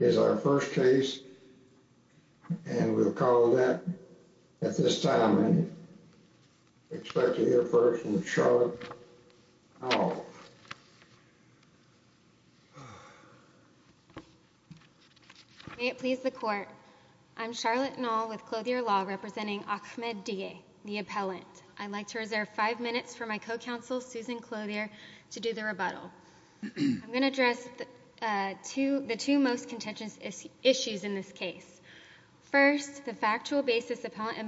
is our first case and we'll call that at this time. I expect to hear first from Charlotte Nall. May it please the court, I'm Charlotte Nall with Clothier Law representing Ahmed Dige, the appellant. I'd like to reserve five minutes for my co-counsel Susan Clothier to do the First, the factual basis the appellant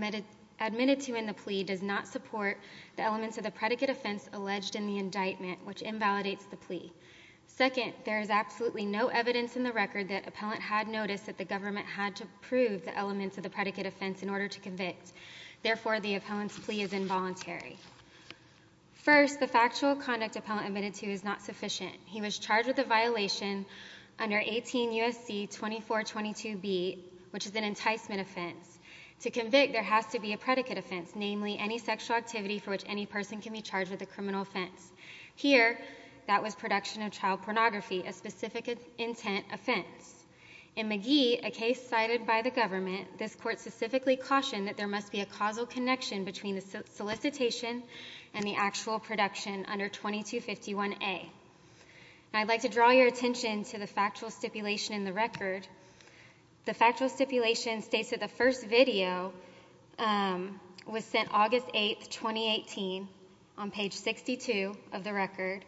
admitted to in the plea does not support the elements of the predicate offense alleged in the indictment, which invalidates the plea. Second, there is absolutely no evidence in the record that appellant had noticed that the government had to prove the elements of the predicate offense in order to convict. Therefore, the appellant's plea is involuntary. First, the factual conduct appellant admitted to is not sufficient. He was charged with a violation under 18 U.S.C. 2422b, which is an enticement offense. To convict, there has to be a predicate offense, namely any sexual activity for which any person can be charged with a criminal offense. Here, that was production of child pornography, a specific intent offense. In Magee, a case cited by the government, this court specifically cautioned that there must be a causal connection between the solicitation and the actual production under 2251a. Now, I'd like to draw your attention to the factual stipulation in the record. The factual stipulation states that the first video was sent August 8, 2018 on page 62 of the record,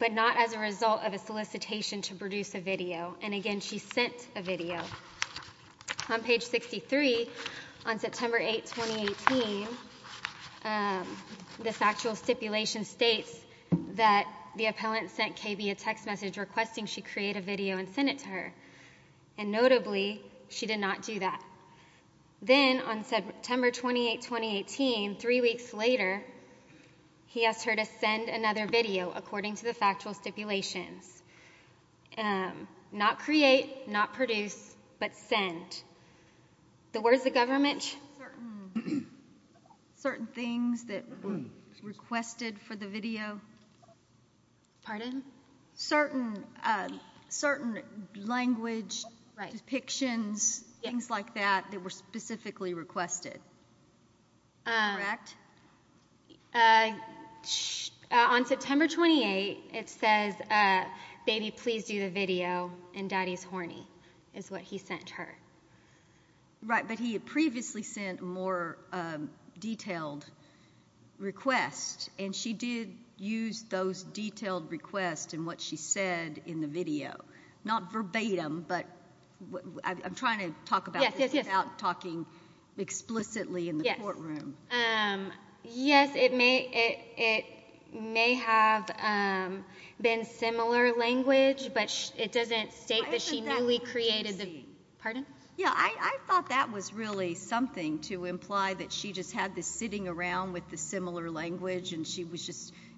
but not as a result of a solicitation to produce a video, and again, she sent a video. On page 63, on September 8, 2018, the factual stipulation states that the appellant sent KB a text message requesting she create a video and send it to her, and notably, she did not do that. Then on September 28, 2018, three weeks later, he asked her to send another video according to the factual stipulations. Not create, not produce, but send. The words the government... Certain things that were requested for the video. Pardon? Certain language depictions, things like that, that were specifically requested. Correct? On September 28, it says, baby, please do the video, and daddy's horny, is what he sent her. Right, but he had previously sent more detailed requests, and she did use those detailed requests in what she said in the video. Not verbatim, but I'm trying to talk about this without talking explicitly in the courtroom. Yes, it may have been similar language, but it doesn't state that she newly created the... Pardon? Yeah, I thought that was really something to imply, that she just had this sitting around with the similar language, and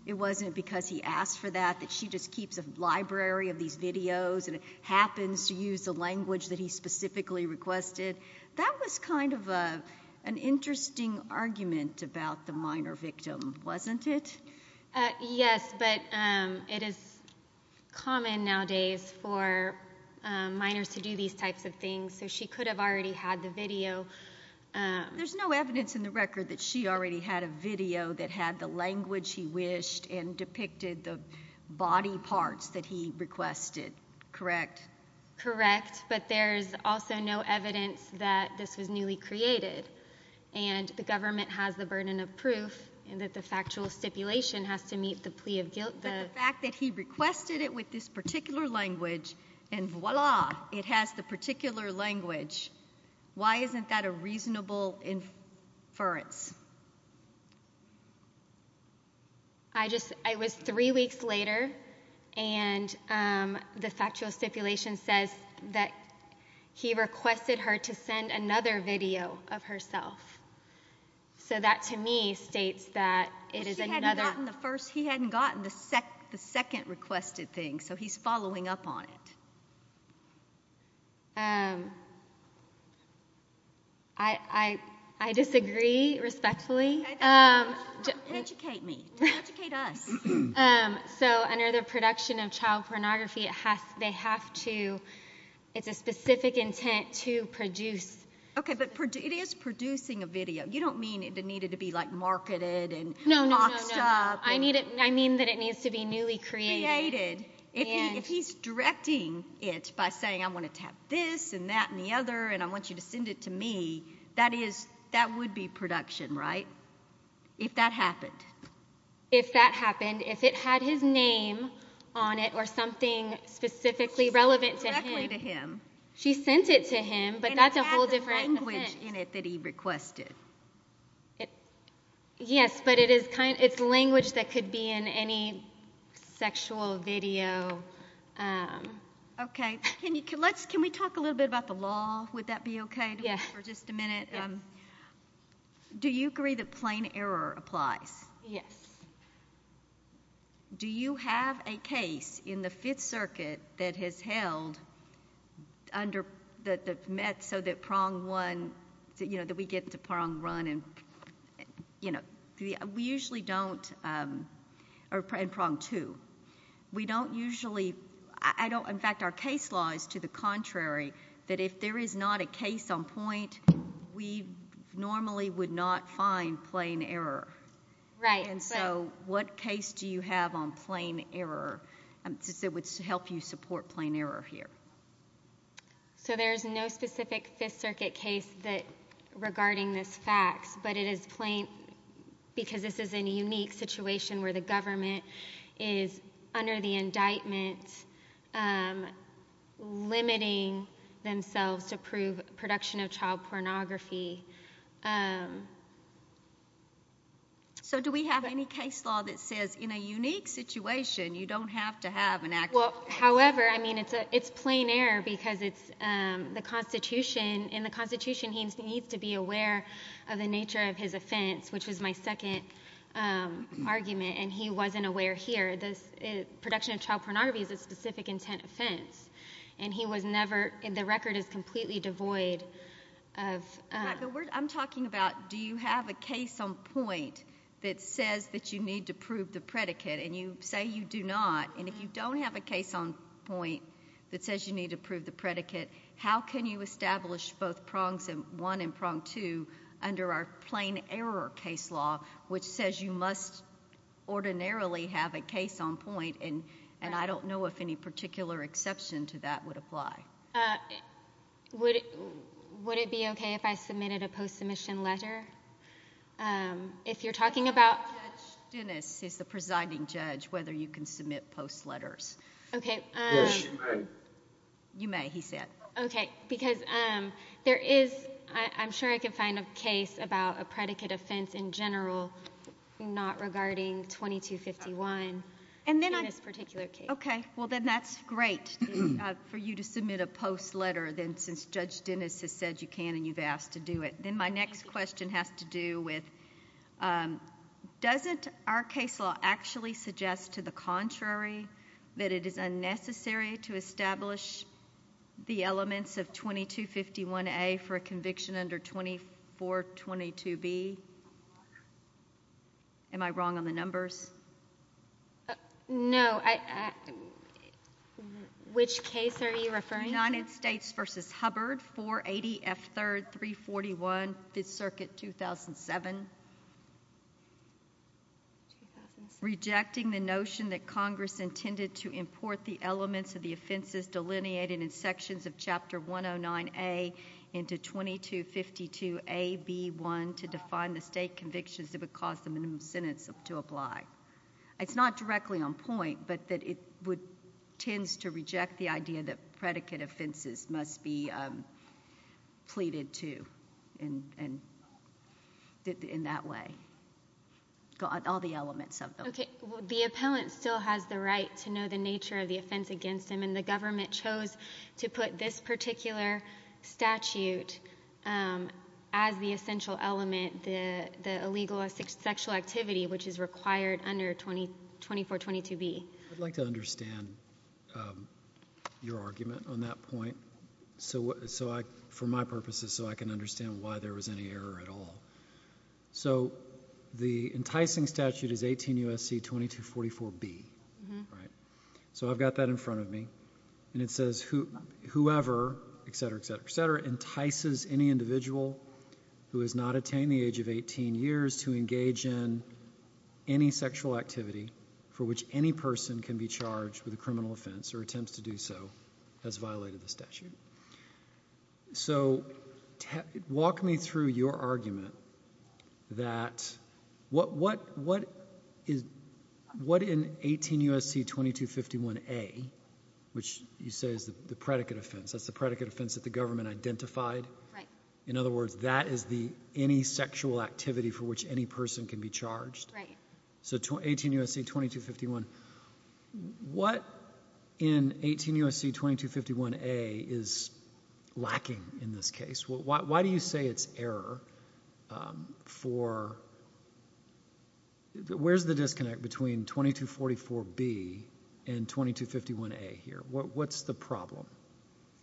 it wasn't because he asked for that, that she just keeps a library of these videos, and happens to use the language that he specifically requested. That was kind of an interesting argument about the minor victim, wasn't it? Yes, but it is common nowadays for minors to do these types of things, so she could have already had the video. There's no evidence in the record that she already had a video that had the language he wished, and depicted the body parts that he requested, correct? Correct, but there's also no evidence that this was newly created, and the government has the burden of proof, and that the factual stipulation has to meet the plea of guilt. The fact that he requested it with this particular language, and voila, it has the particular language, why isn't that a reasonable inference? I just, it was three weeks later, and the factual stipulation says that he requested her to send another video of herself, so that to me states that it is another... He hadn't gotten the first, he hadn't gotten the second requested thing, so he's following up on it. I disagree respectfully. Educate me, educate us. So under the production of child pornography, it has, they have to, it's a specific intent to produce. Okay, but it is producing a video, you don't mean it needed to be like marketed, and boxed up. No, no, no, I need it, I mean that it needs to be newly created. If he's directing it by saying, I want to tap this, and that, and the other, and I want you to send it to me, that is, that would be production, right? If that happened. If that happened, if it had his name on it, or something specifically relevant to him, she sent it to him, but that's a whole different language in it that he requested. Yes, but it is kind, it's language that could be in any sexual video. Okay, can you, let's, can we talk a little bit about the law, would that be okay? For just a minute, do you agree that plain error applies? Yes. Do you have a case in the Fifth Circuit that has held under, that met so that prong one, you know, that we get to prong one, and you know, we usually don't, or in prong two, we don't usually, I don't, in fact, our case law is to the contrary, that if there is not a case on point, we normally would not find plain error. Right. And so, what case do you have on plain error, that would help you support plain error here? So, there's no specific Fifth Circuit case that, regarding this fact, but it is plain, because this is a unique situation where the government is, under the indictment, limiting themselves to prove production of child pornography. So, do we have any case law that says, in a unique situation, you don't have to have an act? Well, however, I mean, it's a, it's plain error, because it's, the Constitution, in the Constitution, he needs to be aware of the nature of his offense, which is my second argument, and he wasn't aware here, this production of child pornography is a specific intent offense, and he was never, the record is completely devoid of. Right, but we're, I'm talking about, do you have a case on point that says that you need to prove the predicate, and you say you do not, and if you don't have a case on point that says you need to prove the predicate, how can you establish both prongs one and prong two under our plain error case law, which says you must ordinarily have a case on point, and, and I don't know if any particular exception to that would apply. Would, would it be okay if I submitted a post-submission letter? If you're talking about... Judge Dennis is the presiding judge, whether you can submit post letters. Okay. Yes, you may. You may, he said. Okay, because there is, I'm sure I can find a case about a predicate offense in general not regarding 2251 in this particular case. Okay, well then that's great for you to submit a post letter, then, since Judge Dennis has said you can, and you've asked to do it. Then my next question has to do with, doesn't our case law actually suggest to the contrary that it is necessary to establish the elements of 2251A for a conviction under 2422B? Am I wrong on the numbers? No, I, which case are you referring to? United States v. Hubbard 480 F3rd 341 5th Circuit 2007. Rejecting the notion that Congress intended to import the elements of the offenses delineated in sections of Chapter 109A into 2252AB1 to define the state convictions that would cause the minimum sentence to apply. It's not directly on point, but that it would, tends to reject the pleaded to in that way, all the elements of them. Okay, the appellant still has the right to know the nature of the offense against him, and the government chose to put this particular statute as the essential element, the illegal sexual activity which is required under 2422B. I'd like to understand your argument on that point, so I, for my purposes, so I can understand why there was any error at all. So the enticing statute is 18 U.S.C. 2244B, right? So I've got that in front of me, and it says whoever, etc., etc., etc., entices any individual who has not can be charged with a criminal offense or attempts to do so has violated the statute. So walk me through your argument that what, what, what is, what in 18 U.S.C. 2251A, which you say is the predicate offense, that's the predicate offense that the government identified, in other words, that is the any sexual activity for which any person can be charged. Right. So 18 U.S.C. 2251, what in 18 U.S.C. 2251A is lacking in this case? Why do you say it's error for, where's the disconnect between 2244B and 2251A here? What's the problem?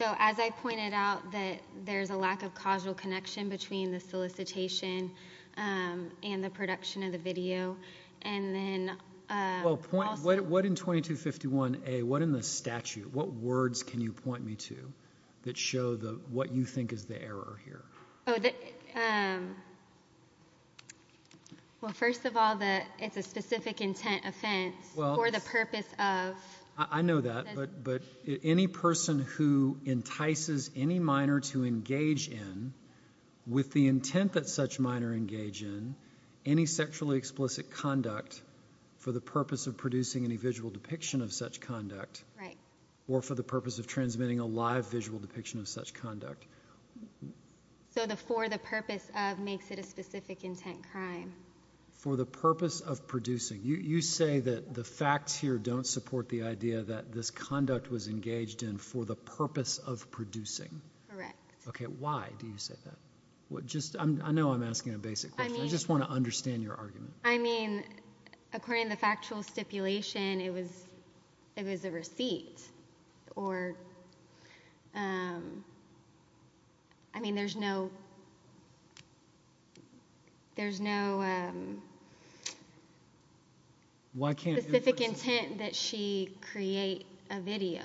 So as I pointed out that there's a lack of causal connection between the solicitation and the production of the video, and then. Well, point, what, what in 2251A, what in the statute, what words can you point me to that show the, what you think is the error here? Oh, the, well, first of all, the, it's a specific intent offense for the purpose of. I know that, but, but any person who entices any minor to engage in with the intent that such minor engage in any sexually explicit conduct for the purpose of producing any visual depiction of such conduct. Right. Or for the purpose of transmitting a live visual depiction of such conduct. So the, for the purpose of makes it a specific intent crime. For the purpose of producing, you say that the facts here don't support the idea that this conduct was engaged in for the purpose of producing. Correct. Okay. Why do you say that? What just, I'm, I know I'm asking a basic question. I just want to understand your argument. I mean, according to the factual stipulation, it was, it was a receipt or, um, I mean, there's no, there's no, um, specific intent that she create a video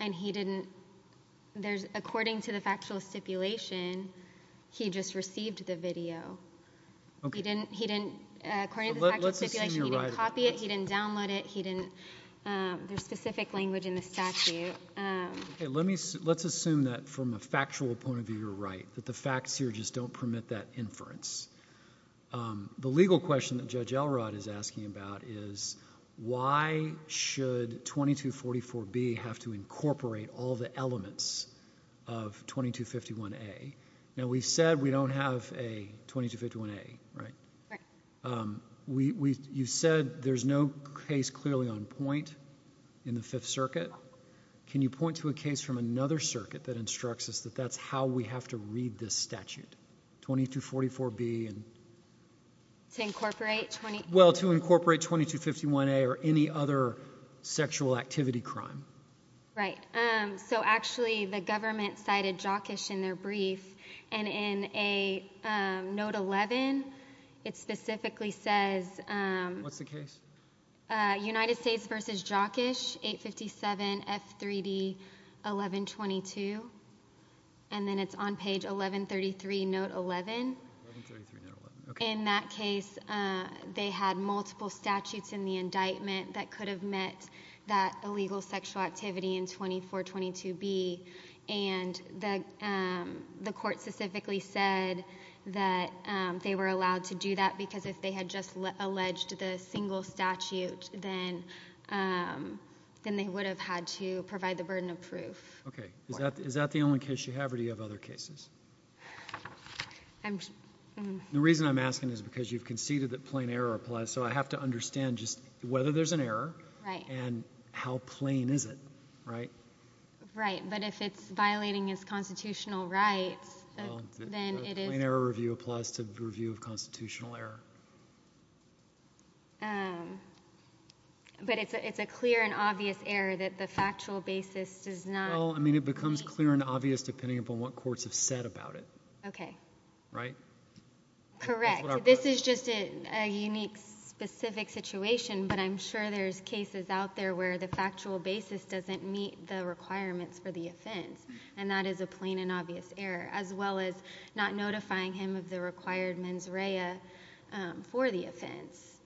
and he didn't, there's, according to the factual stipulation, he just received the video. Okay. He didn't, he didn't, uh, according to the factual stipulation, he didn't copy it, he didn't download it, he didn't, um, there's specific language in the statute. Um. Okay. Let me, let's assume that from a factual point of view, you're right, that the facts here just don't permit that inference. Um, the legal question that Judge Elrod is asking about is why should 2244B have to elements of 2251A? Now, we said we don't have a 2251A, right? Right. Um, we, we, you said there's no case clearly on point in the Fifth Circuit. Can you point to a case from another circuit that instructs us that that's how we have to read this statute, 2244B and. To incorporate 20. Well, to incorporate 2251A or any other sexual activity crime. Right. Um, so actually the government cited Jockish in their brief, and in a, um, note 11, it specifically says, um. What's the case? Uh, United States versus Jockish, 857F3D1122, and then it's on page 1133, note 11. 1133, note 11, okay. In that case, uh, they had multiple statutes in the indictment that could have met that illegal sexual activity in 2422B, and the, um, the court specifically said that, um, they were allowed to do that because if they had just alleged the single statute, then, um, then they would have had to provide the burden of proof. Okay, is that, is that the only case you have, or do you have other cases? I'm, um. The reason I'm asking is because you've conceded that plain error applies, so I have to understand just whether there's an error. Right. And how plain is it, right? Right, but if it's violating his constitutional rights, then it is. Plain error review applies to review of constitutional error. Um, but it's a, it's a clear and obvious error that the factual basis does not. Well, I mean, it becomes clear and obvious depending upon what courts have said about it. Okay. Right? Correct. This is just a, a unique specific situation, but I'm sure there's cases out there where the factual basis doesn't meet the requirements for the offense, and that is a plain and obvious error, as well as not notifying him of the required mens rea, um, for the offense.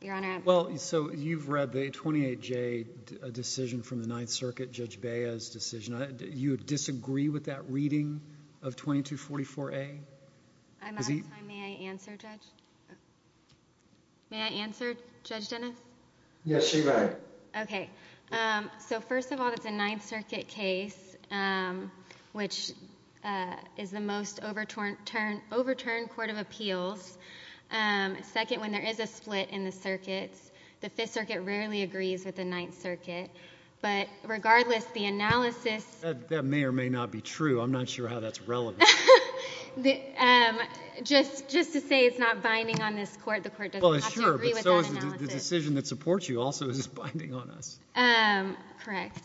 Your Honor. Well, so you've read the 28J decision from the Ninth Circuit, Judge Bea's decision. You disagree with that reading of 2244A? I'm out of time. May I answer, Judge? May I answer, Judge Dennis? Yes, you may. Okay. So, first of all, it's a Ninth Circuit case, um, which, uh, is the most overturned, turn, overturned court of appeals. Um, second, when there is a split in the circuits, the Fifth Circuit rarely agrees with the Ninth Circuit, but regardless, the analysis... That may or may not be true. I'm not sure how that's relevant. The, um, just, just to say it's not binding on this court. The court doesn't have to agree with that analysis. Well, sure, but so is the decision that supports you also is binding on us. Um, correct.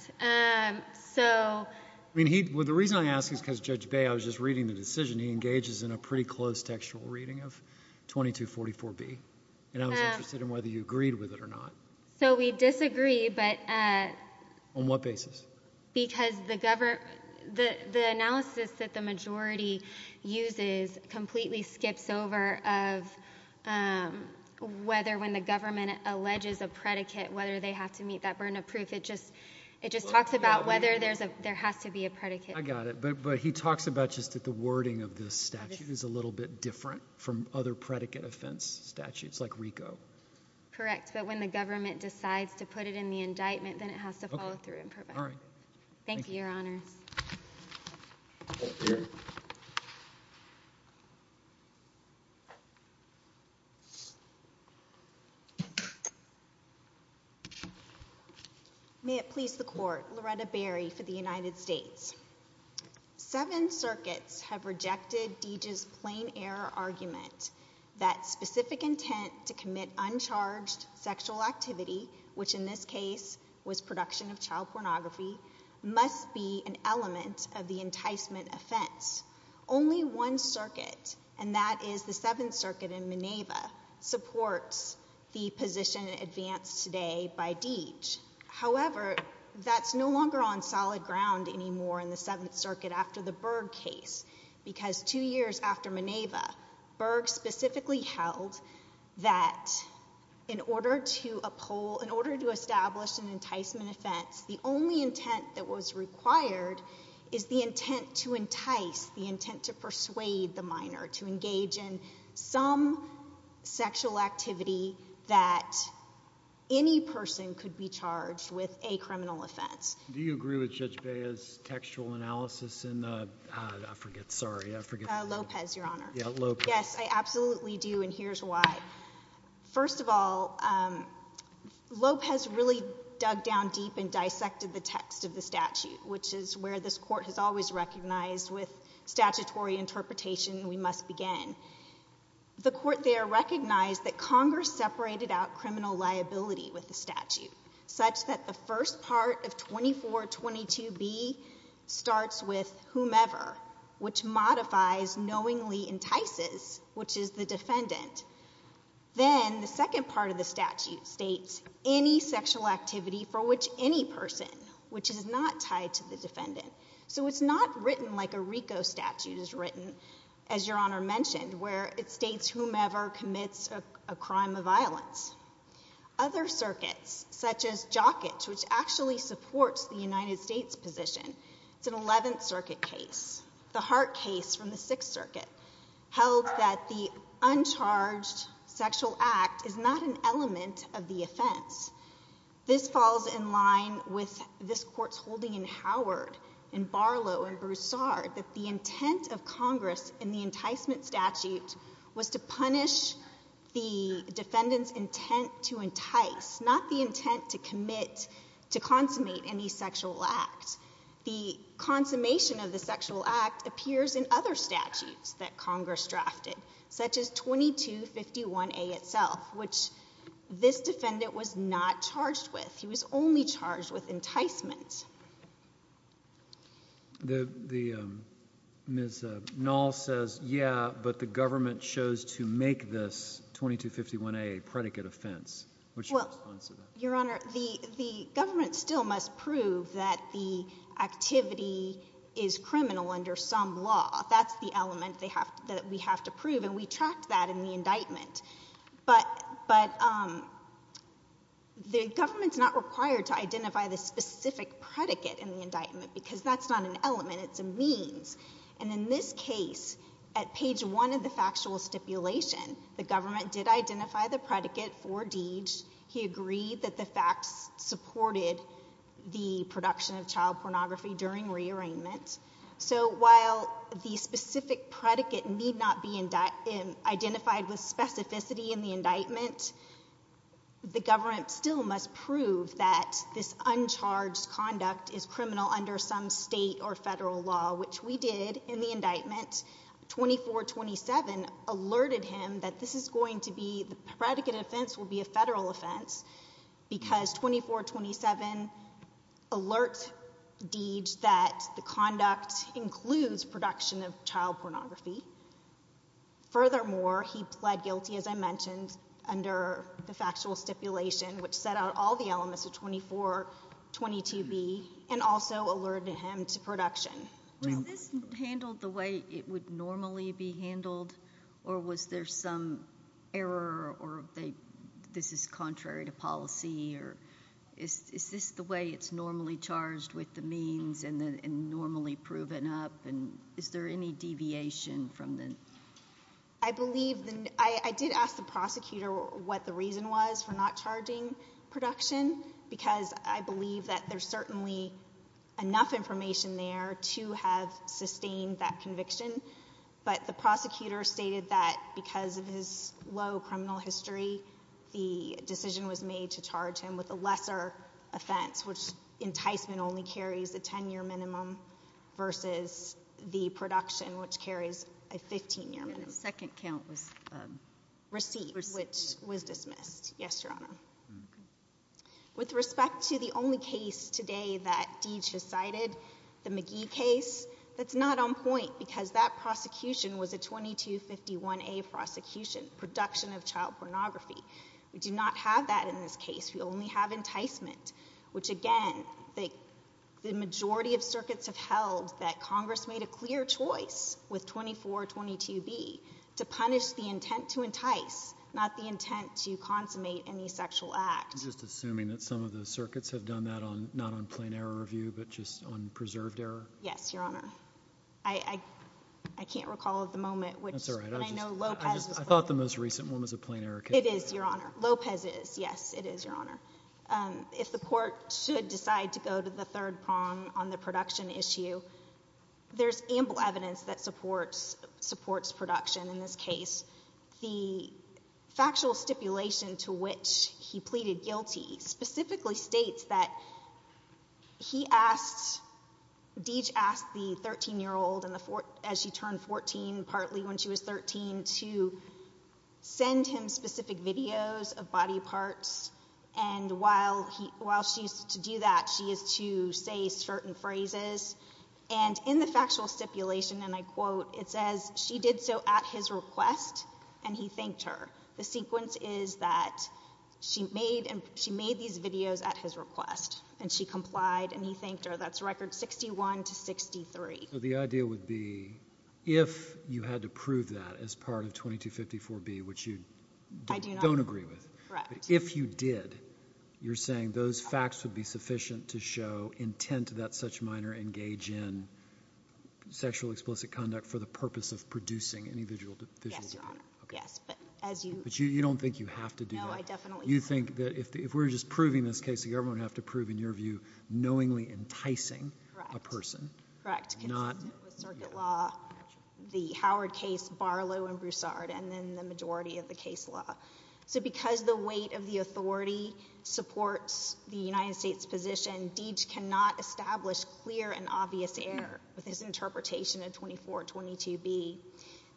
So... I mean, he, well, the reason I ask is because, Judge Bea, I was just reading the decision. He engages in a pretty close textual reading of 2244B, and I was interested in whether you agreed with it or not. So, we disagree, but, uh... On what basis? Because the govern... the, the analysis that the majority uses completely skips over of, um, whether when the government alleges a predicate, whether they have to meet that burden of proof. It just, it just talks about whether there's a, there has to be a predicate. I got it, but, but he talks about just that the wording of this statute is a little bit different from other predicate offense statutes, like RICO. Correct. But when the government decides to put it in the indictment, then it has to follow through and provide. Okay. All right. Thank you. Thank you, Your Honors. May it please the Court. Loretta Berry for the United States. Seven circuits have rejected Deej's plain error argument that specific intent to commit uncharged sexual activity, which in this case was production of child pornography, must be an element of the enticement offense. Only one circuit, and that is the Seventh Circuit in Maneva, supports the position advanced today by Deej. However, that's no longer on solid ground anymore in the Seventh Circuit after the Berg case, because two years after Maneva, Berg specifically held that in order to uphold, in order to establish an enticement offense, the only intent that was required is the intent to entice, the intent to persuade the minor to engage in some sexual activity that any person could be charged with a criminal offense. Do you agree with Judge Bea's textual analysis in, I forget, sorry, I forget. Lopez, Your Honor. Yeah, Lopez. Yes, I absolutely do, and here's why. First of all, Lopez really dug down deep and dissected the text of the statute, which is where this Court has always recognized with statutory interpretation, we must begin. The Court there recognized that Congress separated out criminal liability with the statute, such that the first part of 2422B starts with whomever, which modifies knowingly entices, which is the defendant. Then the second part of the statute states any sexual activity for which any person, which is not tied to the defendant. So it's not written like a RICO statute is written, as Your Honor mentioned, where it states whomever commits a crime of violence. Other circuits, such as Jockett, which actually supports the United States position, it's an Eleventh Circuit case, the Hart case from the Sixth Circuit, held that the uncharged This falls in line with this Court's holding in Howard, in Barlow, in Broussard, that the intent of Congress in the enticement statute was to punish the defendant's intent to entice, not the intent to commit, to consummate any sexual act. The consummation of the sexual act appears in other statutes that Congress drafted, such as 2251A itself, which this defendant was not charged with. He was only charged with enticement. Ms. Nall says, yeah, but the government chose to make this 2251A a predicate offense. What's your response to that? Well, Your Honor, the government still must prove that the activity is criminal under some law. That's the element that we have to prove, and we tracked that in the indictment. But the government's not required to identify the specific predicate in the indictment, because that's not an element. It's a means. And in this case, at page one of the factual stipulation, the government did identify the predicate for Deej. He agreed that the facts supported the production of child pornography during rearrangement. So while the specific predicate need not be identified with specificity in the indictment, the government still must prove that this uncharged conduct is criminal under some state or federal law, which we did in the indictment. 2427 alerted him that this is going to be, the predicate offense will be a federal offense, because 2427 alerts Deej that the conduct includes production of child pornography. Furthermore, he pled guilty, as I mentioned, under the factual stipulation, which set out all the elements of 2422B and also alerted him to production. Was this handled the way it would normally be handled, or was there some error, or this is contrary to policy, or is this the way it's normally charged with the means and normally proven up? And is there any deviation from the? I believe the, I did ask the prosecutor what the reason was for not charging production, because I believe that there's certainly enough information there to have sustained that conviction. But the prosecutor stated that because of his low criminal history, the decision was made to charge him with a lesser offense, which enticement only carries a 10-year minimum versus the production, which carries a 15-year minimum. The second count was? Receipt, which was dismissed. Yes, Your Honor. With respect to the only case today that Deej has cited, the McGee case, that's not on because that prosecution was a 2251A prosecution, production of child pornography. We do not have that in this case. We only have enticement, which again, the majority of circuits have held that Congress made a clear choice with 2422B to punish the intent to entice, not the intent to consummate any sexual act. Just assuming that some of the circuits have done that on, not on plain error review, but just on preserved error? Yes, Your Honor. I can't recall at the moment. That's all right. I thought the most recent one was a plain error case. It is, Your Honor. Lopez is. Yes, it is, Your Honor. If the court should decide to go to the third prong on the production issue, there's ample evidence that supports production in this case. The factual stipulation to which he pleaded guilty specifically states that he asked, Deej asked the 13-year-old as she turned 14, partly when she was 13, to send him specific videos of body parts. And while she's to do that, she is to say certain phrases. And in the factual stipulation, and I quote, it says, she did so at his request and he thanked her. The sequence is that she made these videos at his request and she complied and he thanked her. That's record 61 to 63. So the idea would be, if you had to prove that as part of 2254B, which you don't agree with, if you did, you're saying those facts would be sufficient to show intent that such minor engage in sexual explicit conduct for the purpose of producing any visual video? Yes, but as you. But you don't think you have to do that? No, I definitely don't. You think that if we're just proving this case, the government would have to prove, in your view, knowingly enticing a person. Correct. Consistent with circuit law, the Howard case, Barlow and Broussard, and then the majority of the case law. So because the weight of the authority supports the United States position, Deej cannot establish clear and obvious error with his interpretation of 2422B.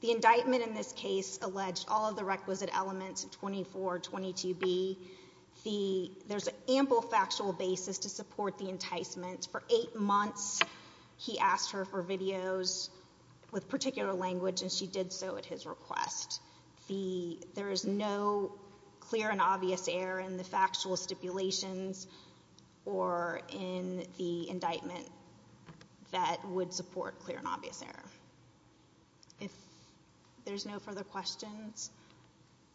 The indictment in this case alleged all of the requisite elements of 2422B. The, there's an ample factual basis to support the enticement. For eight months, he asked her for videos with particular language, and she did so at his request. The, there is no clear and obvious error in the factual stipulations or in the indictment that would support clear and obvious error. If there's no further questions,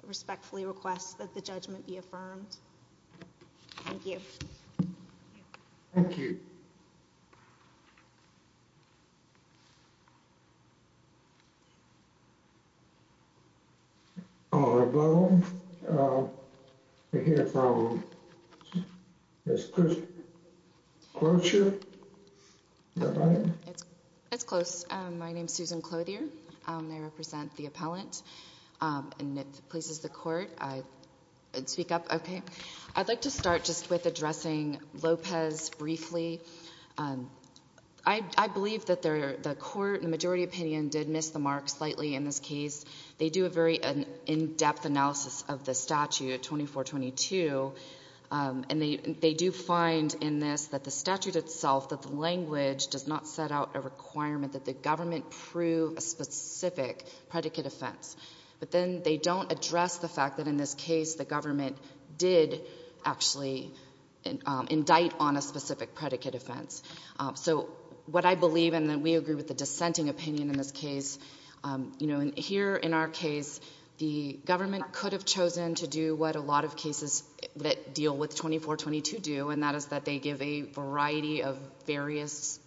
I respectfully request that the judgment be affirmed. Thank you. Thank you. All right, well, we'll hear from Ms. Clutcher. Ms. Clutcher. It's close. My name's Susan Clothier. I represent the appellant, and if it pleases the court, I'd speak up. Okay. I'd like to start just with addressing Lopez briefly. I believe that the court, in the majority opinion, did miss the mark slightly in this case. They do a very in-depth analysis of the statute, 2422, and they do find in this that the language does not set out a requirement that the government prove a specific predicate offense. But then they don't address the fact that in this case, the government did actually indict on a specific predicate offense. So what I believe, and we agree with the dissenting opinion in this case, you know, here in our case, the government could have chosen to do what a lot of cases that deal with 2422 do, and that is that they give a variety of various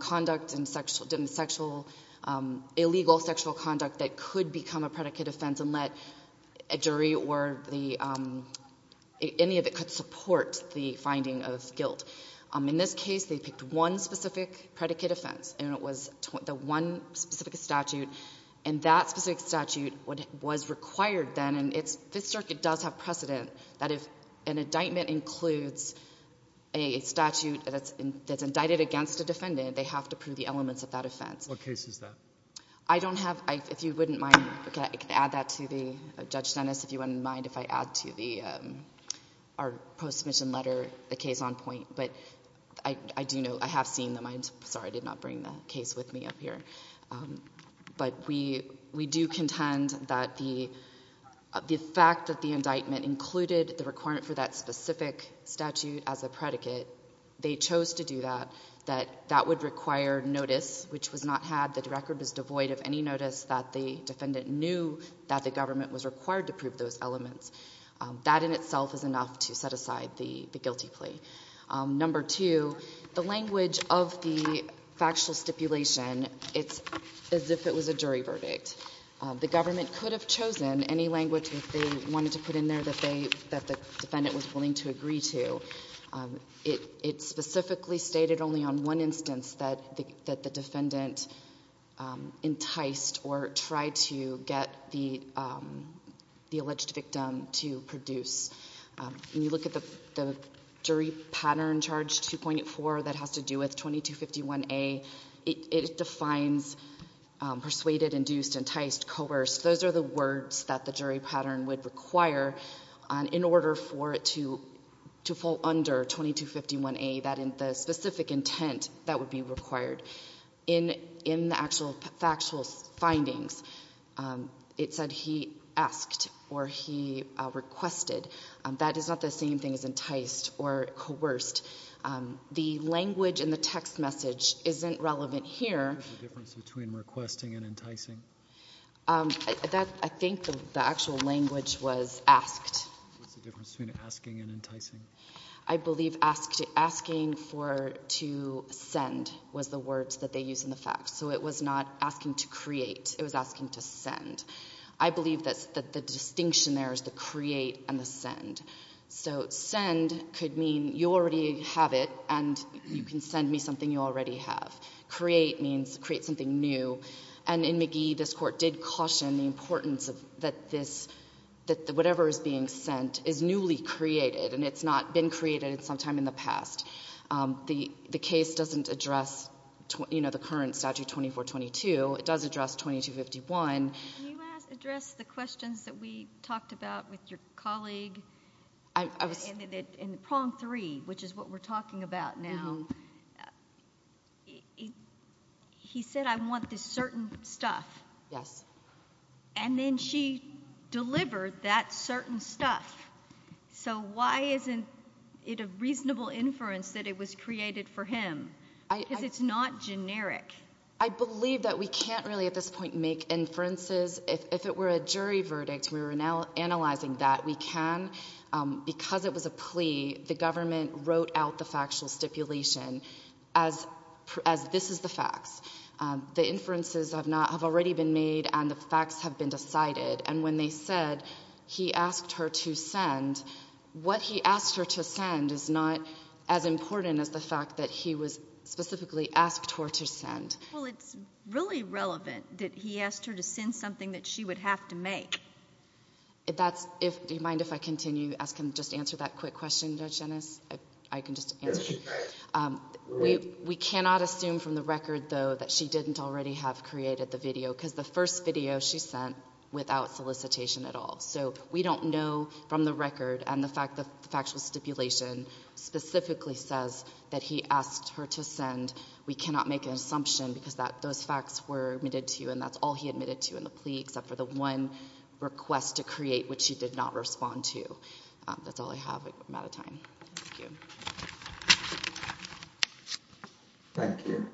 conduct and sexual, illegal sexual conduct that could become a predicate offense and let a jury or any of it could support the finding of guilt. In this case, they picked one specific predicate offense, and it was the one specific statute, and that specific statute was required then. This circuit does have precedent that if an indictment includes a statute that's indicted against a defendant, they have to prove the elements of that offense. What case is that? I don't have, if you wouldn't mind, I can add that to the, Judge Dennis, if you wouldn't mind if I add to the, our post-submission letter, the case on point. But I do know, I have seen them. But we do contend that the fact that the indictment included the requirement for that specific statute as a predicate, they chose to do that, that that would require notice, which was not had. The record was devoid of any notice that the defendant knew that the government was required to prove those elements. That in itself is enough to set aside the guilty plea. Number two, the language of the factual stipulation, it's as if it was a jury verdict. The government could have chosen any language that they wanted to put in there that they, that the defendant was willing to agree to. It specifically stated only on one instance that the defendant enticed or tried to get the alleged victim to produce. When you look at the jury pattern charge 2.4 that has to do with 2251A, it defines persuaded, induced, enticed, coerced, those are the words that the jury pattern would require in order for it to fall under 2251A, that in the specific intent that would be required. In the actual factual findings, it said he asked or he requested. That is not the same thing as enticed or coerced. The language in the text message isn't relevant here. What's the difference between requesting and enticing? I think the actual language was asked. What's the difference between asking and enticing? I believe asking for to send was the words that they use in the facts. So it was not asking to create. It was asking to send. I believe that the distinction there is the create and the send. So send could mean you already have it and you can send me something you already have. Create means create something new. And in McGee, this court did caution the importance of that this, that whatever is being sent is newly created and it's not been created sometime in the past. The case doesn't address, you know, the current statute 2422. It does address 2251. Can you address the questions that we talked about with your colleague in prong three, which is what we're talking about now? He said, I want this certain stuff. Yes. And then she delivered that certain stuff. So why isn't it a reasonable inference that it was created for him? Because it's not generic. I believe that we can't really at this point make inferences. If it were a jury verdict, we were now analyzing that we can because it was a plea. The government wrote out the factual stipulation as this is the facts. The inferences have not, have already been made and the facts have been decided. And when they said he asked her to send, what he asked her to send is not as important as the fact that he was specifically asked her to send. Well, it's really relevant that he asked her to send something that she would have to make. That's if, do you mind if I continue asking, just answer that quick question, Judge Ennis? I can just answer. Um, we, we cannot assume from the record though, that she didn't already have created the video because the first video she sent without solicitation at all. So we don't know from the record and the fact that the factual stipulation specifically says that he asked her to send. We cannot make an assumption because that those facts were admitted to you. And that's all he admitted to in the plea, except for the one request to create, which he did not respond to. That's all I have. I'm out of time. Thank you.